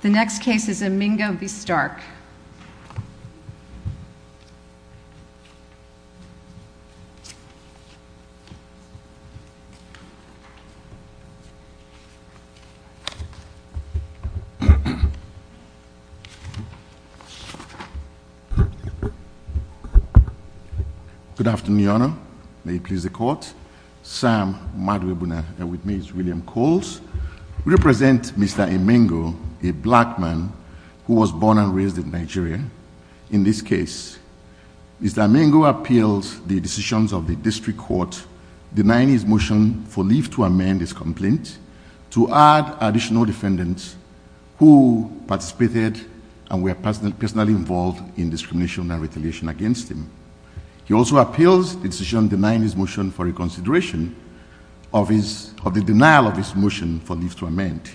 The next case is Emengo v. Stark. Good afternoon, Your Honor. May it please the Court. Sam Madwebuna, and with me is William Coles. We represent Mr. Emengo, a black man who was born and raised in Nigeria. In this case, Mr. Emengo appeals the decisions of the District Court denying his motion for leave to amend his complaint to add additional defendants who participated and were personally involved in discrimination and retaliation against him. He also appeals the decision denying his motion for reconsideration of the denial of his motion for leave to amend.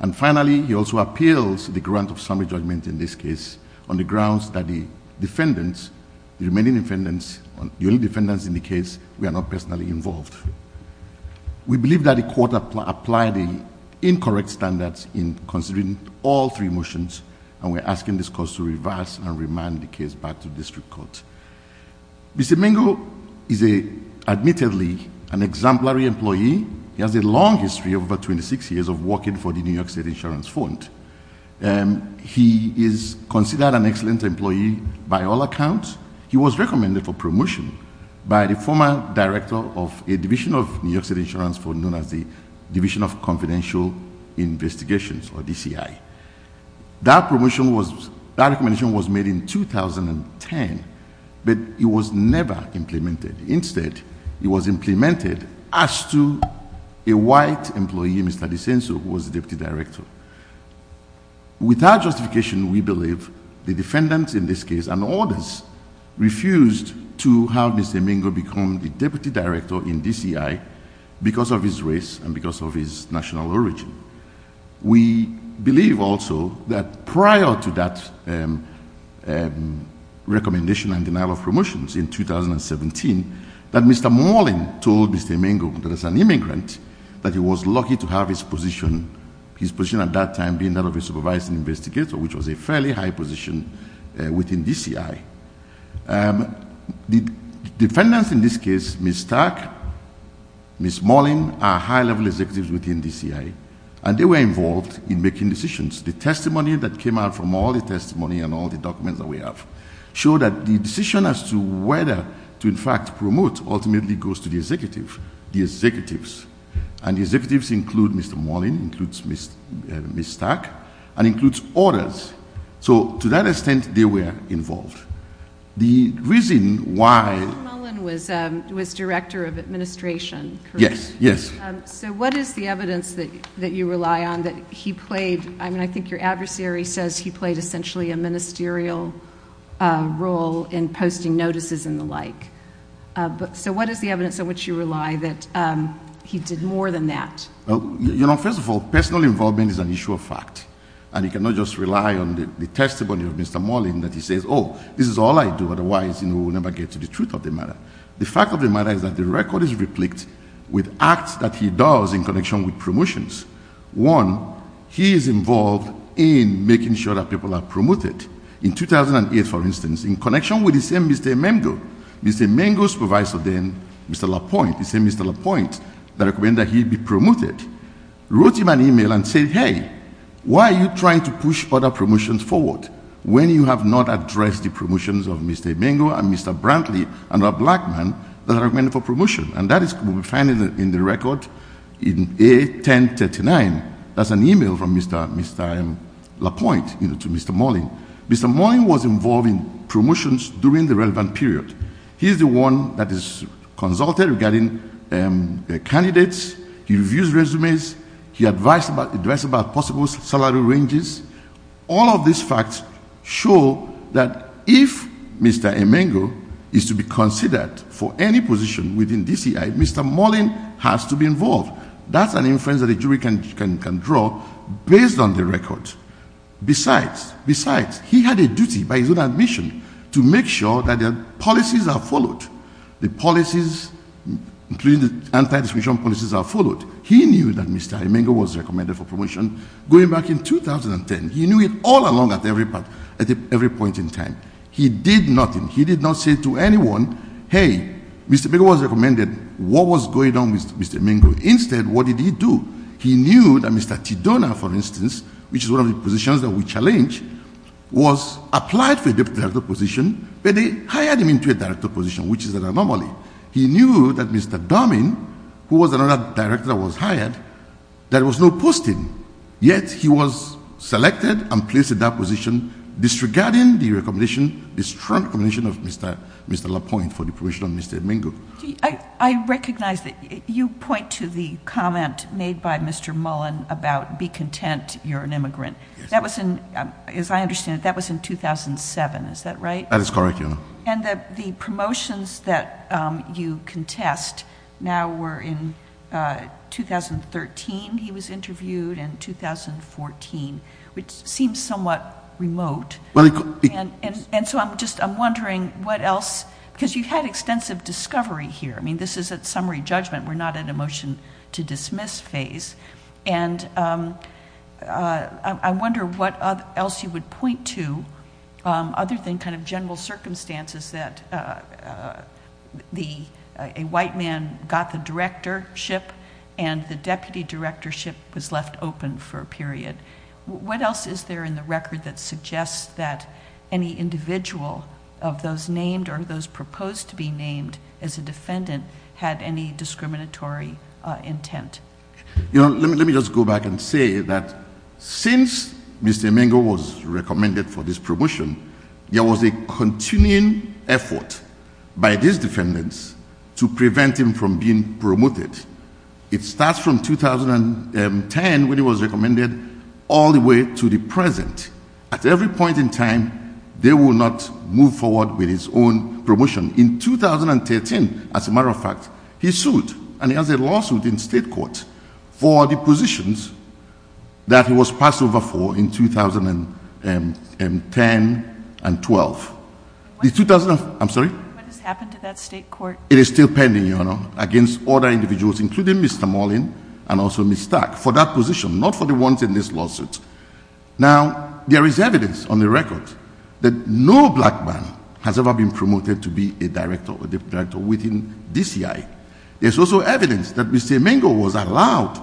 And finally, he also appeals the grant of summary judgment in this case on the grounds that the defendants, the remaining defendants, the only defendants in the case were not personally involved. We believe that the Court applied the incorrect standards in considering all three motions and we are asking this Court to reverse and remand the case back to the District Court. Mr. Emengo is admittedly an exemplary employee. He has a long history of over 26 years of working for the New York State Insurance Fund. He is considered an excellent employee by all accounts. He was recommended for promotion by the former director of a division of New York State Insurance Fund known as the Division of Confidential Investigations, or DCI. That promotion was, that recommendation was made in 2010, but it was never implemented. Instead, it was implemented as to a white employee, Mr. Desenso, who was the deputy director. Without justification, we believe the defendants in this case and others refused to have Mr. Emengo become the deputy director in DCI because of his race and because of his national origin. We believe also that prior to that recommendation and denial of promotions in 2017, that Mr. Morlin told Mr. Emengo, that as an immigrant, that he was lucky to have his position, his position at that time being that of a supervising investigator, which was a fairly high position within DCI. The defendants in this case, Ms. Stark, Ms. Morlin, are high level executives within DCI, and they were involved in making decisions. The testimony that came out from all the testimony and all the documents that we have show that the decision as to whether to, in fact, promote ultimately goes to the executive, the executives, and the executives include Mr. Morlin, includes Ms. Stark, and includes orders. So to that extent, they were involved. The reason why... What is the evidence that you rely on that he played, I mean, I think your adversary says he played essentially a ministerial role in posting notices and the like. So what is the evidence on which you rely that he did more than that? You know, first of all, personal involvement is an issue of fact, and you cannot just rely on the testimony of Mr. Morlin that he says, oh, this is all I do, otherwise, you know, we'll never get to the truth of the matter. The fact of the matter is that the record is replicated with acts that he does in connection with promotions. One, he is involved in making sure that people are promoted. In 2008, for instance, in connection with the same Mr. Emengo, Mr. Emengo's supervisor then, Mr. Lapointe, the same Mr. Lapointe, that recommended that he be promoted, wrote him an email and said, hey, why are you trying to push other promotions forward when you have not addressed the promotions of Mr. Emengo and Mr. Brantley and a black man that are recommended for promotion? And that is what we find in the record in A1039. That's an email from Mr. Lapointe, you know, to Mr. Morlin. Mr. Morlin was involved in promotions during the relevant period. He is the one that is consulted regarding candidates. He reviews resumes. He advises about possible salary ranges. All of these facts show that if Mr. Emengo is to be considered for any position within DCI, Mr. Morlin has to be involved. That's an inference that a jury can draw based on the record. Besides, he had a duty by his own admission to make sure that the policies are followed, the policies, including the anti-discrimination policies are followed. He knew that Mr. Emengo was recommended for promotion going back in 2010. He knew it all along at every point in time. He did nothing. He did not say to anyone, hey, Mr. Emengo was recommended. What was going on with Mr. Emengo? Instead, what did he do? He knew that Mr. Tidona, for instance, which is one of the positions that we challenge, was applied for a director position, but they hired him into a director position, which is an anomaly. He knew that Mr. Doming, who was another director that was hired, there was no posting, yet he was selected and placed in that position disregarding the strong recommendation of Mr. Lapointe for the promotion of Mr. Emengo. I recognize that you point to the comment made by Mr. Mullen about be content you're an immigrant. As I understand it, that was in 2007. Is that right? That is correct, Your Honor. The promotions that you contest now were in 2013 he was interviewed and 2014, which seems somewhat remote. I'm wondering what else, because you've had extensive discovery here. This is a summary judgment. We're not at a motion to dismiss phase. I wonder what else you would point to other than general circumstances that a white man got the directorship and the deputy directorship was left open for a period. What else is there in the record that suggests that any individual of those named or those proposed to be named as a defendant had any discriminatory intent? Let me just go back and say that since Mr. Emengo was recommended for this promotion, there was a continuing effort by these defendants to prevent him from being promoted. It starts from 2010 when he was recommended all the way to the present. At every point in time, they will not move forward with his own promotion. In 2013, as a matter of fact, he sued and he has a lawsuit in state court for the positions that he was passed over for in 2010 and 2012. What has happened to that state court? It is still pending, Your Honor, against all the individuals, including Mr. Marlin and also Ms. Stark, for that position, not for the ones in this lawsuit. Now, there is evidence on the record that no black man has ever been promoted to be a director or deputy director within DCI. There is also evidence that Mr. Emengo was allowed,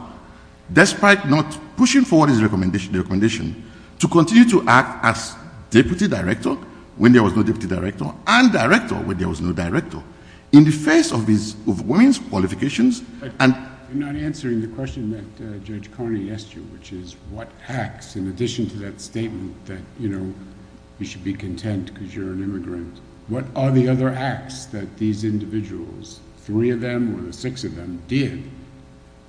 despite not pushing forward his recommendation, to continue to act as deputy director when there was no deputy director and director when there was no director. In the face of women's qualifications and... I'm not answering the question that Judge Carney asked you, which is what acts, in addition to that statement that, you know, you should be content because you're an immigrant, what are the other acts that these individuals, three of them or the six of them, did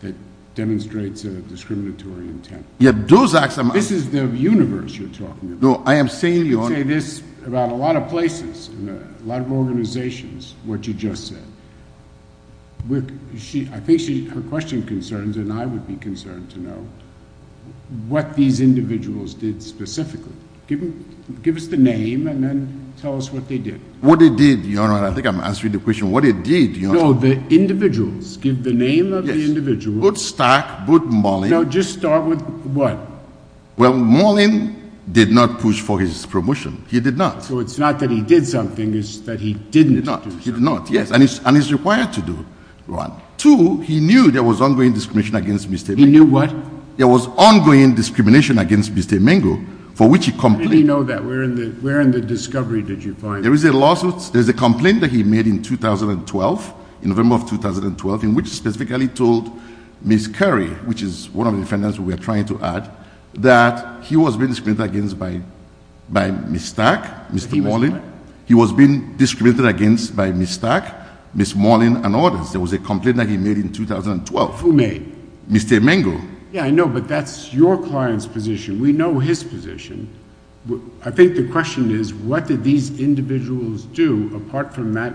that demonstrates a discriminatory intent? Yeah, those acts... This is the universe you're talking about. No, I am saying, Your Honor... You say this about a lot of places, a lot of organizations, what you just said. I think her question concerns, and I would be concerned to know, what these individuals did specifically. Give us the name and then tell us what they did. What they did, Your Honor, I think I'm answering the question, what they did, Your Honor... No, the individuals. Give the name of the individuals. Yes, both Stark, both Mollen... No, just start with what? Well, Mollen did not push for his promotion. He did not. So it's not that he did something, it's that he didn't do something. He did not, yes, and he's required to do one. Two, he knew there was ongoing discrimination against Mr. Emengo. He knew what? There was ongoing discrimination against Mr. Emengo, for which he complained. How do you know that? Where in the discovery did you find that? There is a lawsuit, there is a complaint that he made in 2012, in November of 2012, in which he specifically told Ms. Curry, which is one of the defendants we are trying to add, that he was being discriminated against by Ms. Stark, Mr. Mollen. He was being discriminated against by Ms. Stark, Ms. Mollen, and others. There was a complaint that he made in 2012. Who made? Mr. Emengo. Yeah, I know, but that's your client's position. We know his position. I think the question is, what did these individuals do, apart from that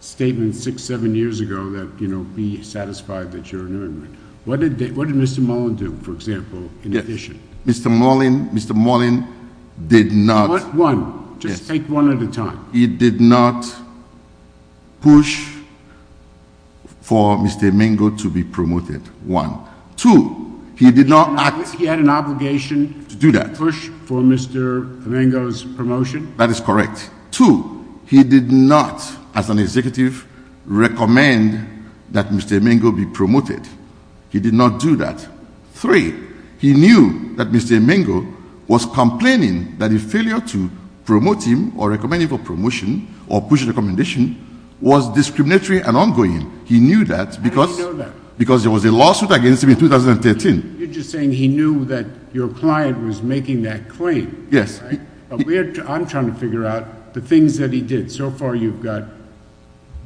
statement six, seven years ago, that, you know, be satisfied that you're an immigrant. What did Mr. Mollen do, for example, in addition? Mr. Mollen, Mr. Mollen did not. One, just take one at a time. He did not push for Mr. Emengo to be promoted. One. Two, he did not act. He had an obligation. To do that. He did not push for Mr. Emengo's promotion. That is correct. Two, he did not, as an executive, recommend that Mr. Emengo be promoted. He did not do that. Three, he knew that Mr. Emengo was complaining that his failure to promote him, or recommend him for promotion, or push a recommendation, was discriminatory and ongoing. He knew that because there was a lawsuit against him in 2013. You're just saying he knew that your client was making that claim. Yes. I'm trying to figure out the things that he did. So far you've got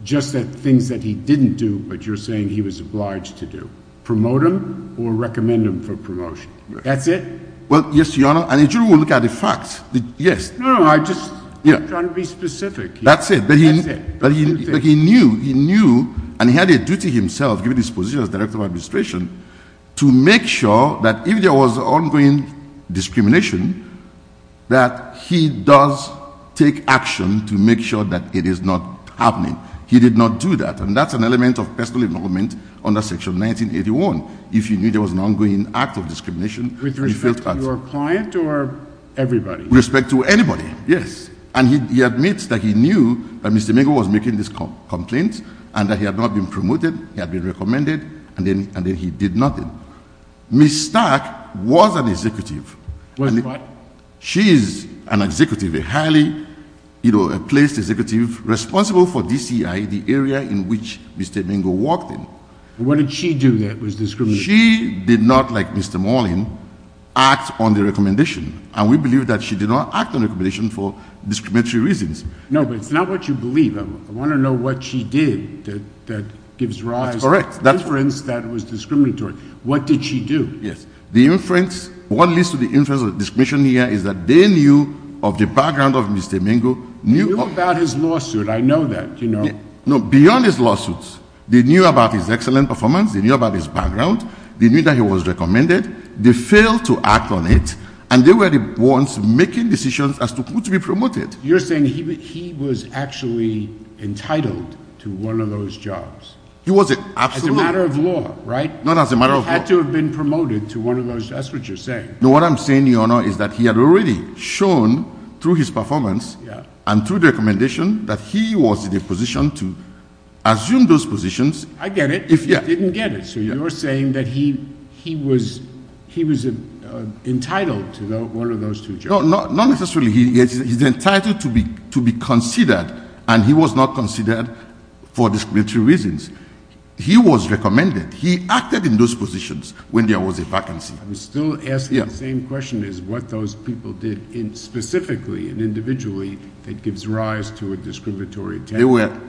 just the things that he didn't do, but you're saying he was obliged to do. Promote him or recommend him for promotion. That's it? Well, yes, Your Honor, and if you look at the facts, yes. No, no, I'm just trying to be specific. That's it. That's it. He knew, and he had a duty himself, given his position as director of administration, to make sure that if there was ongoing discrimination, that he does take action to make sure that it is not happening. He did not do that, and that's an element of personal involvement under Section 1981. If you knew there was an ongoing act of discrimination. With respect to your client or everybody? With respect to anybody, yes. And he admits that he knew that Mr. Mingo was making this complaint and that he had not been promoted. He had been recommended, and then he did nothing. Ms. Stark was an executive. Was what? She is an executive, a highly placed executive responsible for DCI, the area in which Mr. Mingo worked in. What did she do that was discriminatory? She did not, like Mr. Morland, act on the recommendation. And we believe that she did not act on the recommendation for discriminatory reasons. No, but it's not what you believe. I want to know what she did that gives rise to inference that was discriminatory. What did she do? Yes. The inference, what leads to the inference of discrimination here is that they knew of the background of Mr. Mingo. They knew about his lawsuit. I know that, you know. No, beyond his lawsuits, they knew about his excellent performance. They knew about his background. They knew that he was recommended. They failed to act on it, and they were the ones making decisions as to who to be promoted. You're saying he was actually entitled to one of those jobs. He was, absolutely. As a matter of law, right? Not as a matter of law. He had to have been promoted to one of those. That's what you're saying. No, what I'm saying, Your Honor, is that he had already shown through his performance and through the recommendation that he was in a position to assume those positions. I get it. He didn't get it. You're saying that he was entitled to one of those two jobs. No, not necessarily. He's entitled to be considered, and he was not considered for discriminatory reasons. He was recommended. He acted in those positions when there was a vacancy. I'm still asking the same question as what those people did specifically and individually that gives rise to a discriminatory attack.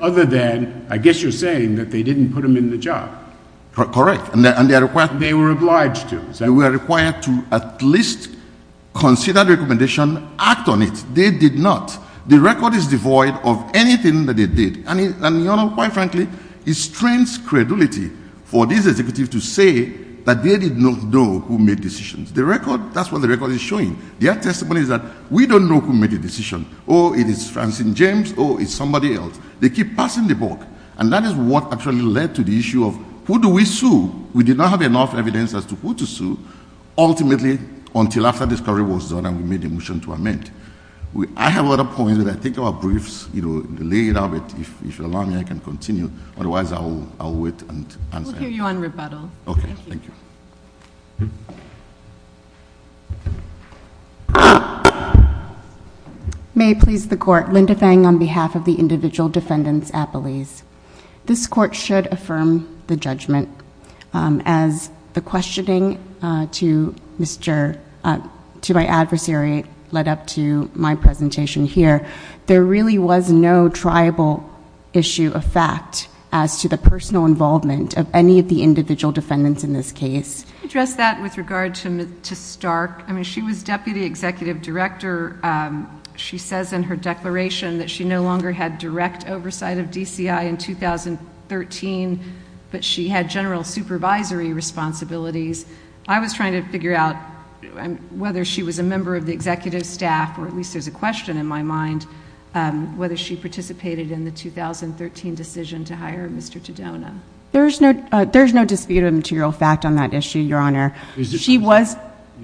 Other than, I guess you're saying that they didn't put him in the job. Correct. And they were obliged to. They were required to at least consider the recommendation, act on it. They did not. The record is devoid of anything that they did. And, Your Honor, quite frankly, it strains credulity for this executive to say that they did not know who made decisions. That's what the record is showing. Their testimony is that we don't know who made the decision. Oh, it is Francine James, or it's somebody else. They keep passing the buck. And that is what actually led to the issue of who do we sue. We did not have enough evidence as to who to sue, ultimately, until after this query was done and we made a motion to amend. I have other points, but I think our briefs, you know, delayed a bit. If you'll allow me, I can continue. Otherwise, I'll wait and answer. We'll hear you on rebuttal. Okay. Thank you. May it please the Court. Linda Fang on behalf of the individual defendants, Appelese. This Court should affirm the judgment. As the questioning to my adversary led up to my presentation here, there really was no triable issue of fact as to the personal involvement of any of the individual defendants in this case. Can you address that with regard to Stark? I mean, she was deputy executive director. She says in her declaration that she no longer had direct oversight of DCI in 2013, but she had general supervisory responsibilities. I was trying to figure out whether she was a member of the executive staff, or at least there's a question in my mind, whether she participated in the 2013 decision to hire Mr. Tadona. There's no disputed material fact on that issue, Your Honor. You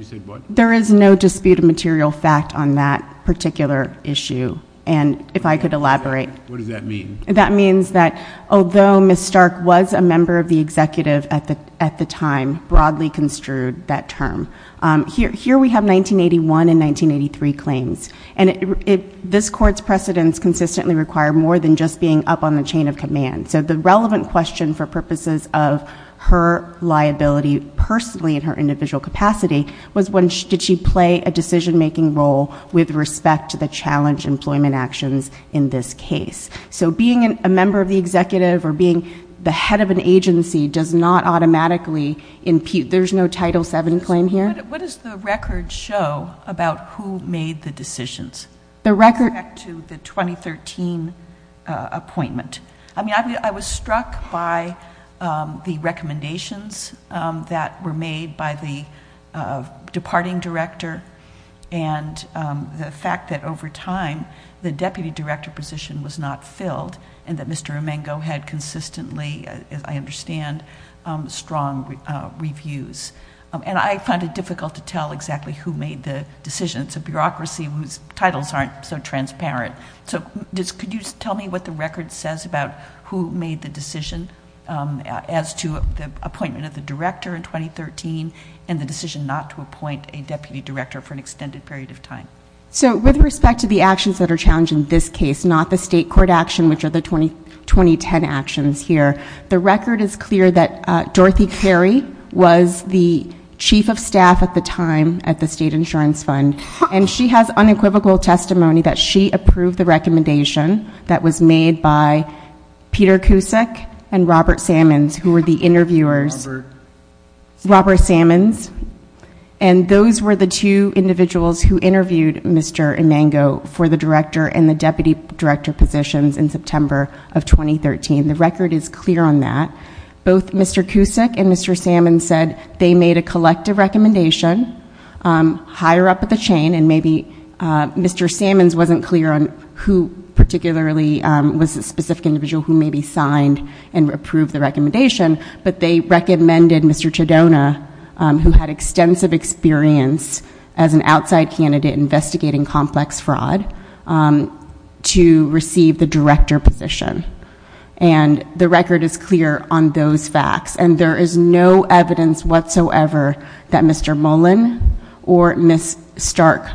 said what? There is no disputed material fact on that particular issue, and if I could elaborate. What does that mean? That means that although Ms. Stark was a member of the executive at the time, broadly construed that term. Here we have 1981 and 1983 claims, and this Court's precedents consistently require more than just being up on the chain of command. So the relevant question for purposes of her liability personally in her individual capacity was did she play a decision-making role with respect to the challenge employment actions in this case? So being a member of the executive or being the head of an agency does not automatically impute. There's no Title VII claim here? What does the record show about who made the decisions? The record- I was struck by the recommendations that were made by the departing director and the fact that over time the deputy director position was not filled and that Mr. Emengo had consistently, as I understand, strong reviews. And I find it difficult to tell exactly who made the decisions. It's a bureaucracy whose titles aren't so transparent. So could you tell me what the record says about who made the decision as to the appointment of the director in 2013 and the decision not to appoint a deputy director for an extended period of time? So with respect to the actions that are challenged in this case, not the state court action, which are the 2010 actions here, the record is clear that Dorothy Carey was the chief of staff at the time at the State Insurance Fund, and she has unequivocal testimony that she approved the recommendation that was made by Peter Cusick and Robert Sammons, who were the interviewers. Robert? Robert Sammons. And those were the two individuals who interviewed Mr. Emengo for the director and the deputy director positions in September of 2013. The record is clear on that. Both Mr. Cusick and Mr. Sammons said they made a collective recommendation higher up at the chain, and maybe Mr. Sammons wasn't clear on who particularly was the specific individual who maybe signed and approved the recommendation, but they recommended Mr. Chidona, who had extensive experience as an outside candidate investigating complex fraud, to receive the director position. And the record is clear on those facts. And there is no evidence whatsoever that Mr. Mullen or Ms. Stark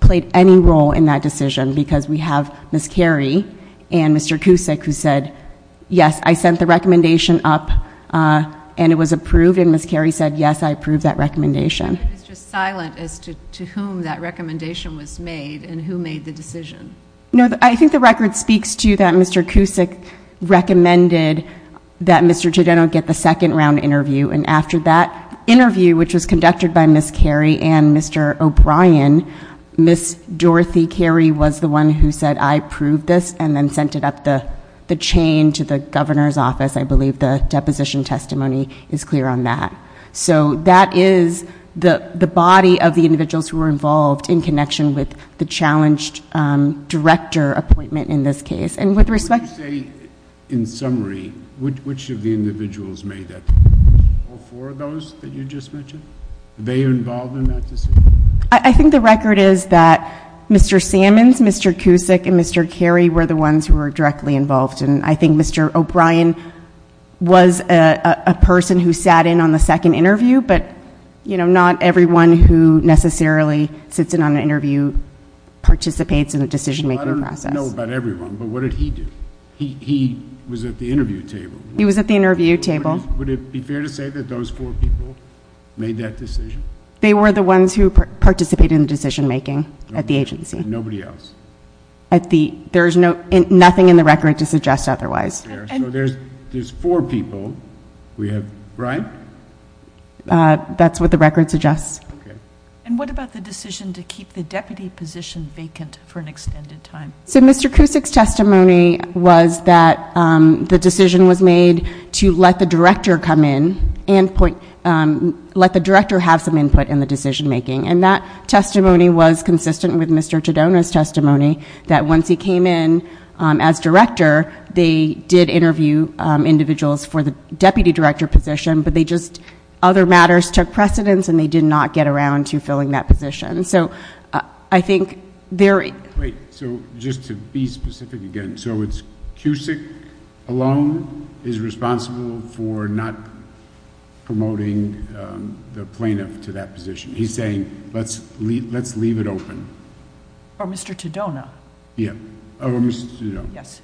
played any role in that decision because we have Ms. Carey and Mr. Cusick who said, yes, I sent the recommendation up and it was approved, and Ms. Carey said, yes, I approved that recommendation. It's just silent as to whom that recommendation was made and who made the decision. I think the record speaks to that Mr. Cusick recommended that Mr. Chidona get the second round interview, and after that interview, which was conducted by Ms. Carey and Mr. O'Brien, Ms. Dorothy Carey was the one who said, I approved this, and then sent it up the chain to the governor's office. I believe the deposition testimony is clear on that. So that is the body of the individuals who were involved in connection with the challenged director appointment in this case. And with respect to the- Would you say, in summary, which of the individuals made that decision? All four of those that you just mentioned? Were they involved in that decision? I think the record is that Mr. Sammons, Mr. Cusick, and Mr. Carey were the ones who were directly involved, and I think Mr. O'Brien was a person who sat in on the second interview, but not everyone who necessarily sits in on an interview participates in the decision-making process. I don't know about everyone, but what did he do? He was at the interview table. He was at the interview table. Would it be fair to say that those four people made that decision? They were the ones who participated in the decision-making at the agency. Nobody else? There is nothing in the record to suggest otherwise. So there's four people, right? That's what the record suggests. Okay. And what about the decision to keep the deputy position vacant for an extended time? So Mr. Cusick's testimony was that the decision was made to let the director come in and let the director have some input in the decision-making, and that testimony was consistent with Mr. Tadona's testimony, that once he came in as director, they did interview individuals for the deputy director position, but they just other matters took precedence and they did not get around to filling that position. So I think they're – Wait. So just to be specific again. So it's Cusick alone is responsible for not promoting the plaintiff to that position. He's saying let's leave it open. Or Mr. Tadona. Yeah. Or Mr. Tadona. Yes.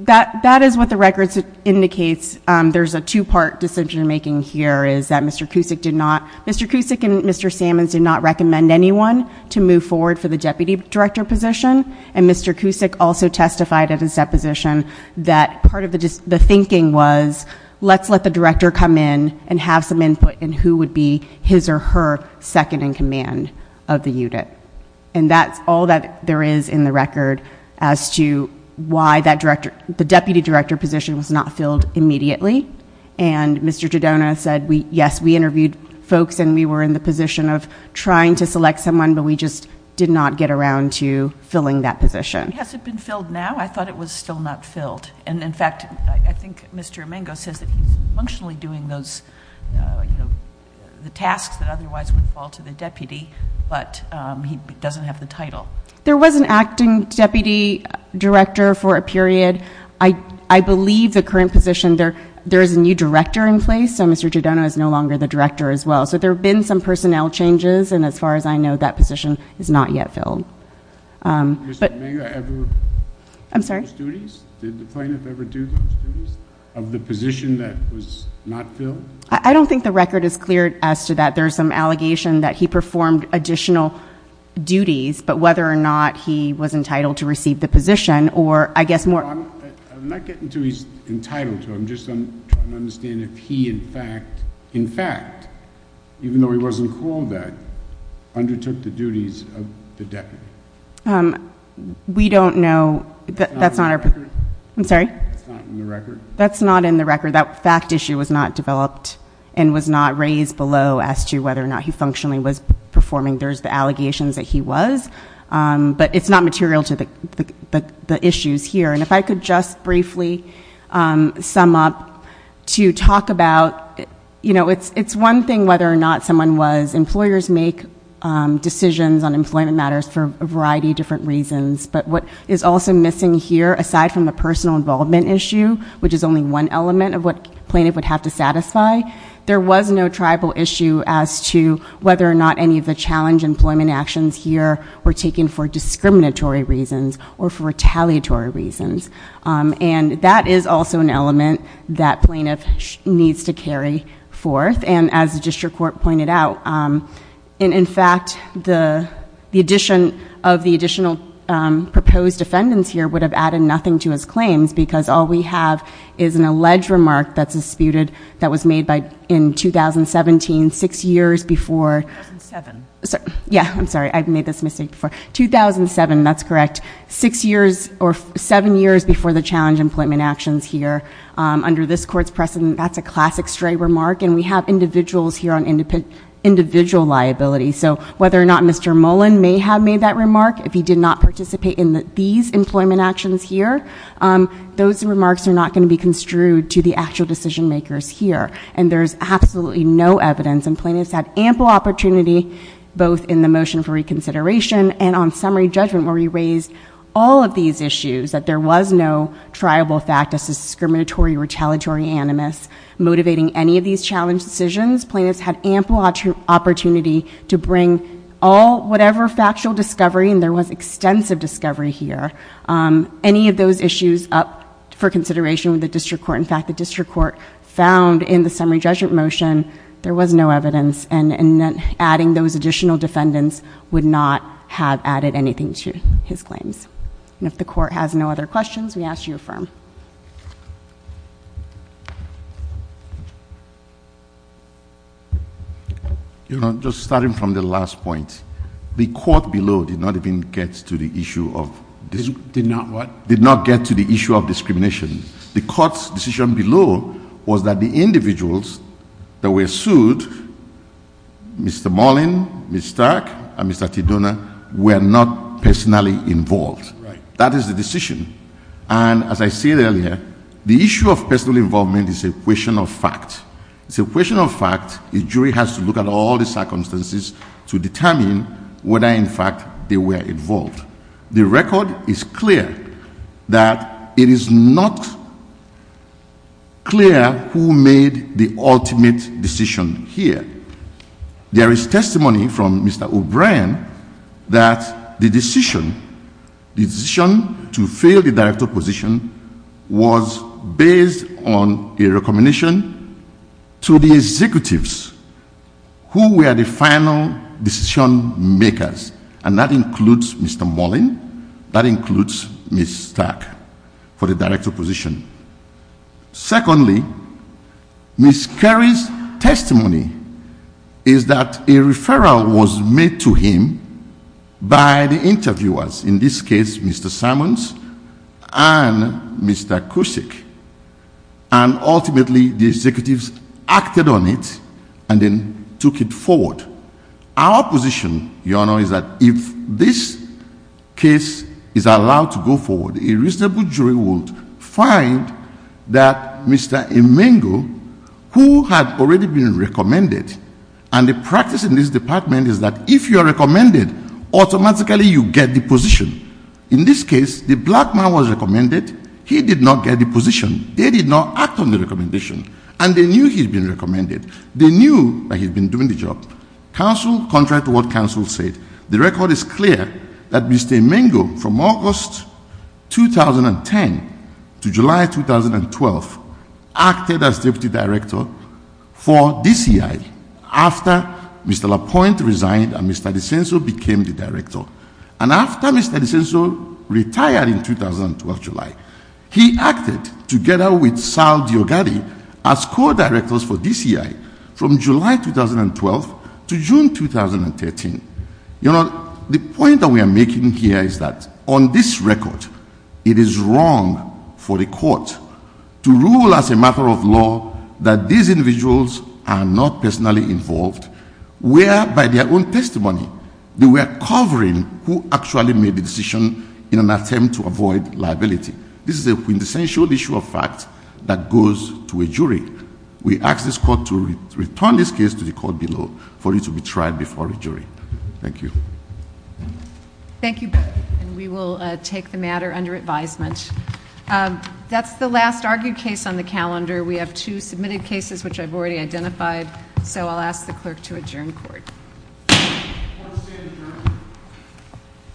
That is what the record indicates. There's a two-part decision-making here is that Mr. Cusick did not – Mr. Cusick and Mr. Sammons did not recommend anyone to move forward for the deputy director position, and Mr. Cusick also testified at his deposition that part of the thinking was let's let the director come in and have some input in who would be his or her second-in-command of the unit. And that's all that there is in the record as to why the deputy director position was not filled immediately. And Mr. Tadona said, yes, we interviewed folks and we were in the position of trying to select someone, but we just did not get around to filling that position. Has it been filled now? I thought it was still not filled. And, in fact, I think Mr. Emengo says that he's functionally doing those, you know, the tasks that otherwise would fall to the deputy, but he doesn't have the title. There was an acting deputy director for a period. I believe the current position, there is a new director in place, so Mr. Tadona is no longer the director as well. So there have been some personnel changes, and as far as I know, that position is not yet filled. Did Mr. Emengo ever do those duties? I'm sorry? Did the plaintiff ever do those duties of the position that was not filled? I don't think the record is clear as to that. There is some allegation that he performed additional duties, but whether or not he was entitled to receive the position or, I guess, more. I'm not getting to he's entitled to. I'm just trying to understand if he, in fact, in fact, even though he wasn't called that, undertook the duties of the deputy. We don't know. That's not in the record? I'm sorry? That's not in the record? That's not in the record. That fact issue was not developed and was not raised below as to whether or not he functionally was performing. There's the allegations that he was, but it's not material to the issues here. And if I could just briefly sum up to talk about, you know, it's one thing whether or not someone was. Employers make decisions on employment matters for a variety of different reasons. But what is also missing here, aside from the personal involvement issue, which is only one element of what plaintiff would have to satisfy, there was no tribal issue as to whether or not any of the challenge employment actions here were taken for discriminatory reasons or for retaliatory reasons. And that is also an element that plaintiff needs to carry forth. And as the district court pointed out, in fact, the addition of the additional proposed defendants here would have added nothing to his claims because all we have is an alleged remark that's disputed that was made in 2017, six years before. 2007. Yeah, I'm sorry. I've made this mistake before. 2007, that's correct. Six years or seven years before the challenge employment actions here. Under this court's precedent, that's a classic stray remark. And we have individuals here on individual liability. So whether or not Mr. Mullen may have made that remark, if he did not participate in these employment actions here, those remarks are not going to be construed to the actual decision makers here. And there's absolutely no evidence. And plaintiffs had ample opportunity both in the motion for reconsideration and on summary judgment where we raised all of these issues, that there was no triable fact as to discriminatory or retaliatory animus. Motivating any of these challenge decisions, plaintiffs had ample opportunity to bring all whatever factual discovery, and there was extensive discovery here, any of those issues up for consideration with the district court. In fact, the district court found in the summary judgment motion there was no evidence. And adding those additional defendants would not have added anything to his claims. And if the court has no other questions, we ask you to affirm. Just starting from the last point, the court below did not even get to the issue of Did not what? Did not get to the issue of discrimination. The court's decision below was that the individuals that were sued, Mr. Mullen, Ms. Stark, and Mr. Tedona, were not personally involved. That is the decision. And as I said earlier, the issue of personal involvement is a question of fact. It's a question of fact. A jury has to look at all the circumstances to determine whether, in fact, they were involved. The record is clear that it is not clear who made the ultimate decision here. There is testimony from Mr. O'Brien that the decision, the decision to fail the director position, was based on a recommendation to the executives who were the final decision makers, and that includes Mr. Mullen, that includes Ms. Stark, for the director position. Secondly, Ms. Carey's testimony is that a referral was made to him by the interviewers, in this case Mr. Simons and Mr. Cusick, and ultimately the executives acted on it and then took it forward. Our position, Your Honor, is that if this case is allowed to go forward, a reasonable jury will find that Mr. Emengo, who had already been recommended, and the practice in this department is that if you are recommended, automatically you get the position. In this case, the black man was recommended. He did not get the position. They did not act on the recommendation. And they knew he had been recommended. They knew that he had been doing the job. Council, contrary to what council said, the record is clear that Mr. Emengo, from August 2010 to July 2012, acted as deputy director for DCI after Mr. Lapointe resigned and Mr. DiCenso became the director. And after Mr. DiCenso retired in July 2012, he acted together with Sal Diogadi as co-directors for DCI from July 2012 to June 2013. Your Honor, the point that we are making here is that on this record, it is wrong for the court to rule as a matter of law that these individuals are not personally involved, where, by their own testimony, they were covering who actually made the decision in an attempt to avoid liability. This is a quintessential issue of fact that goes to a jury. We ask this court to return this case to the court below for it to be tried before a jury. Thank you. Thank you both, and we will take the matter under advisement. That's the last argued case on the calendar. We have two submitted cases which I've already identified, so I'll ask the clerk to adjourn court. Court is adjourned.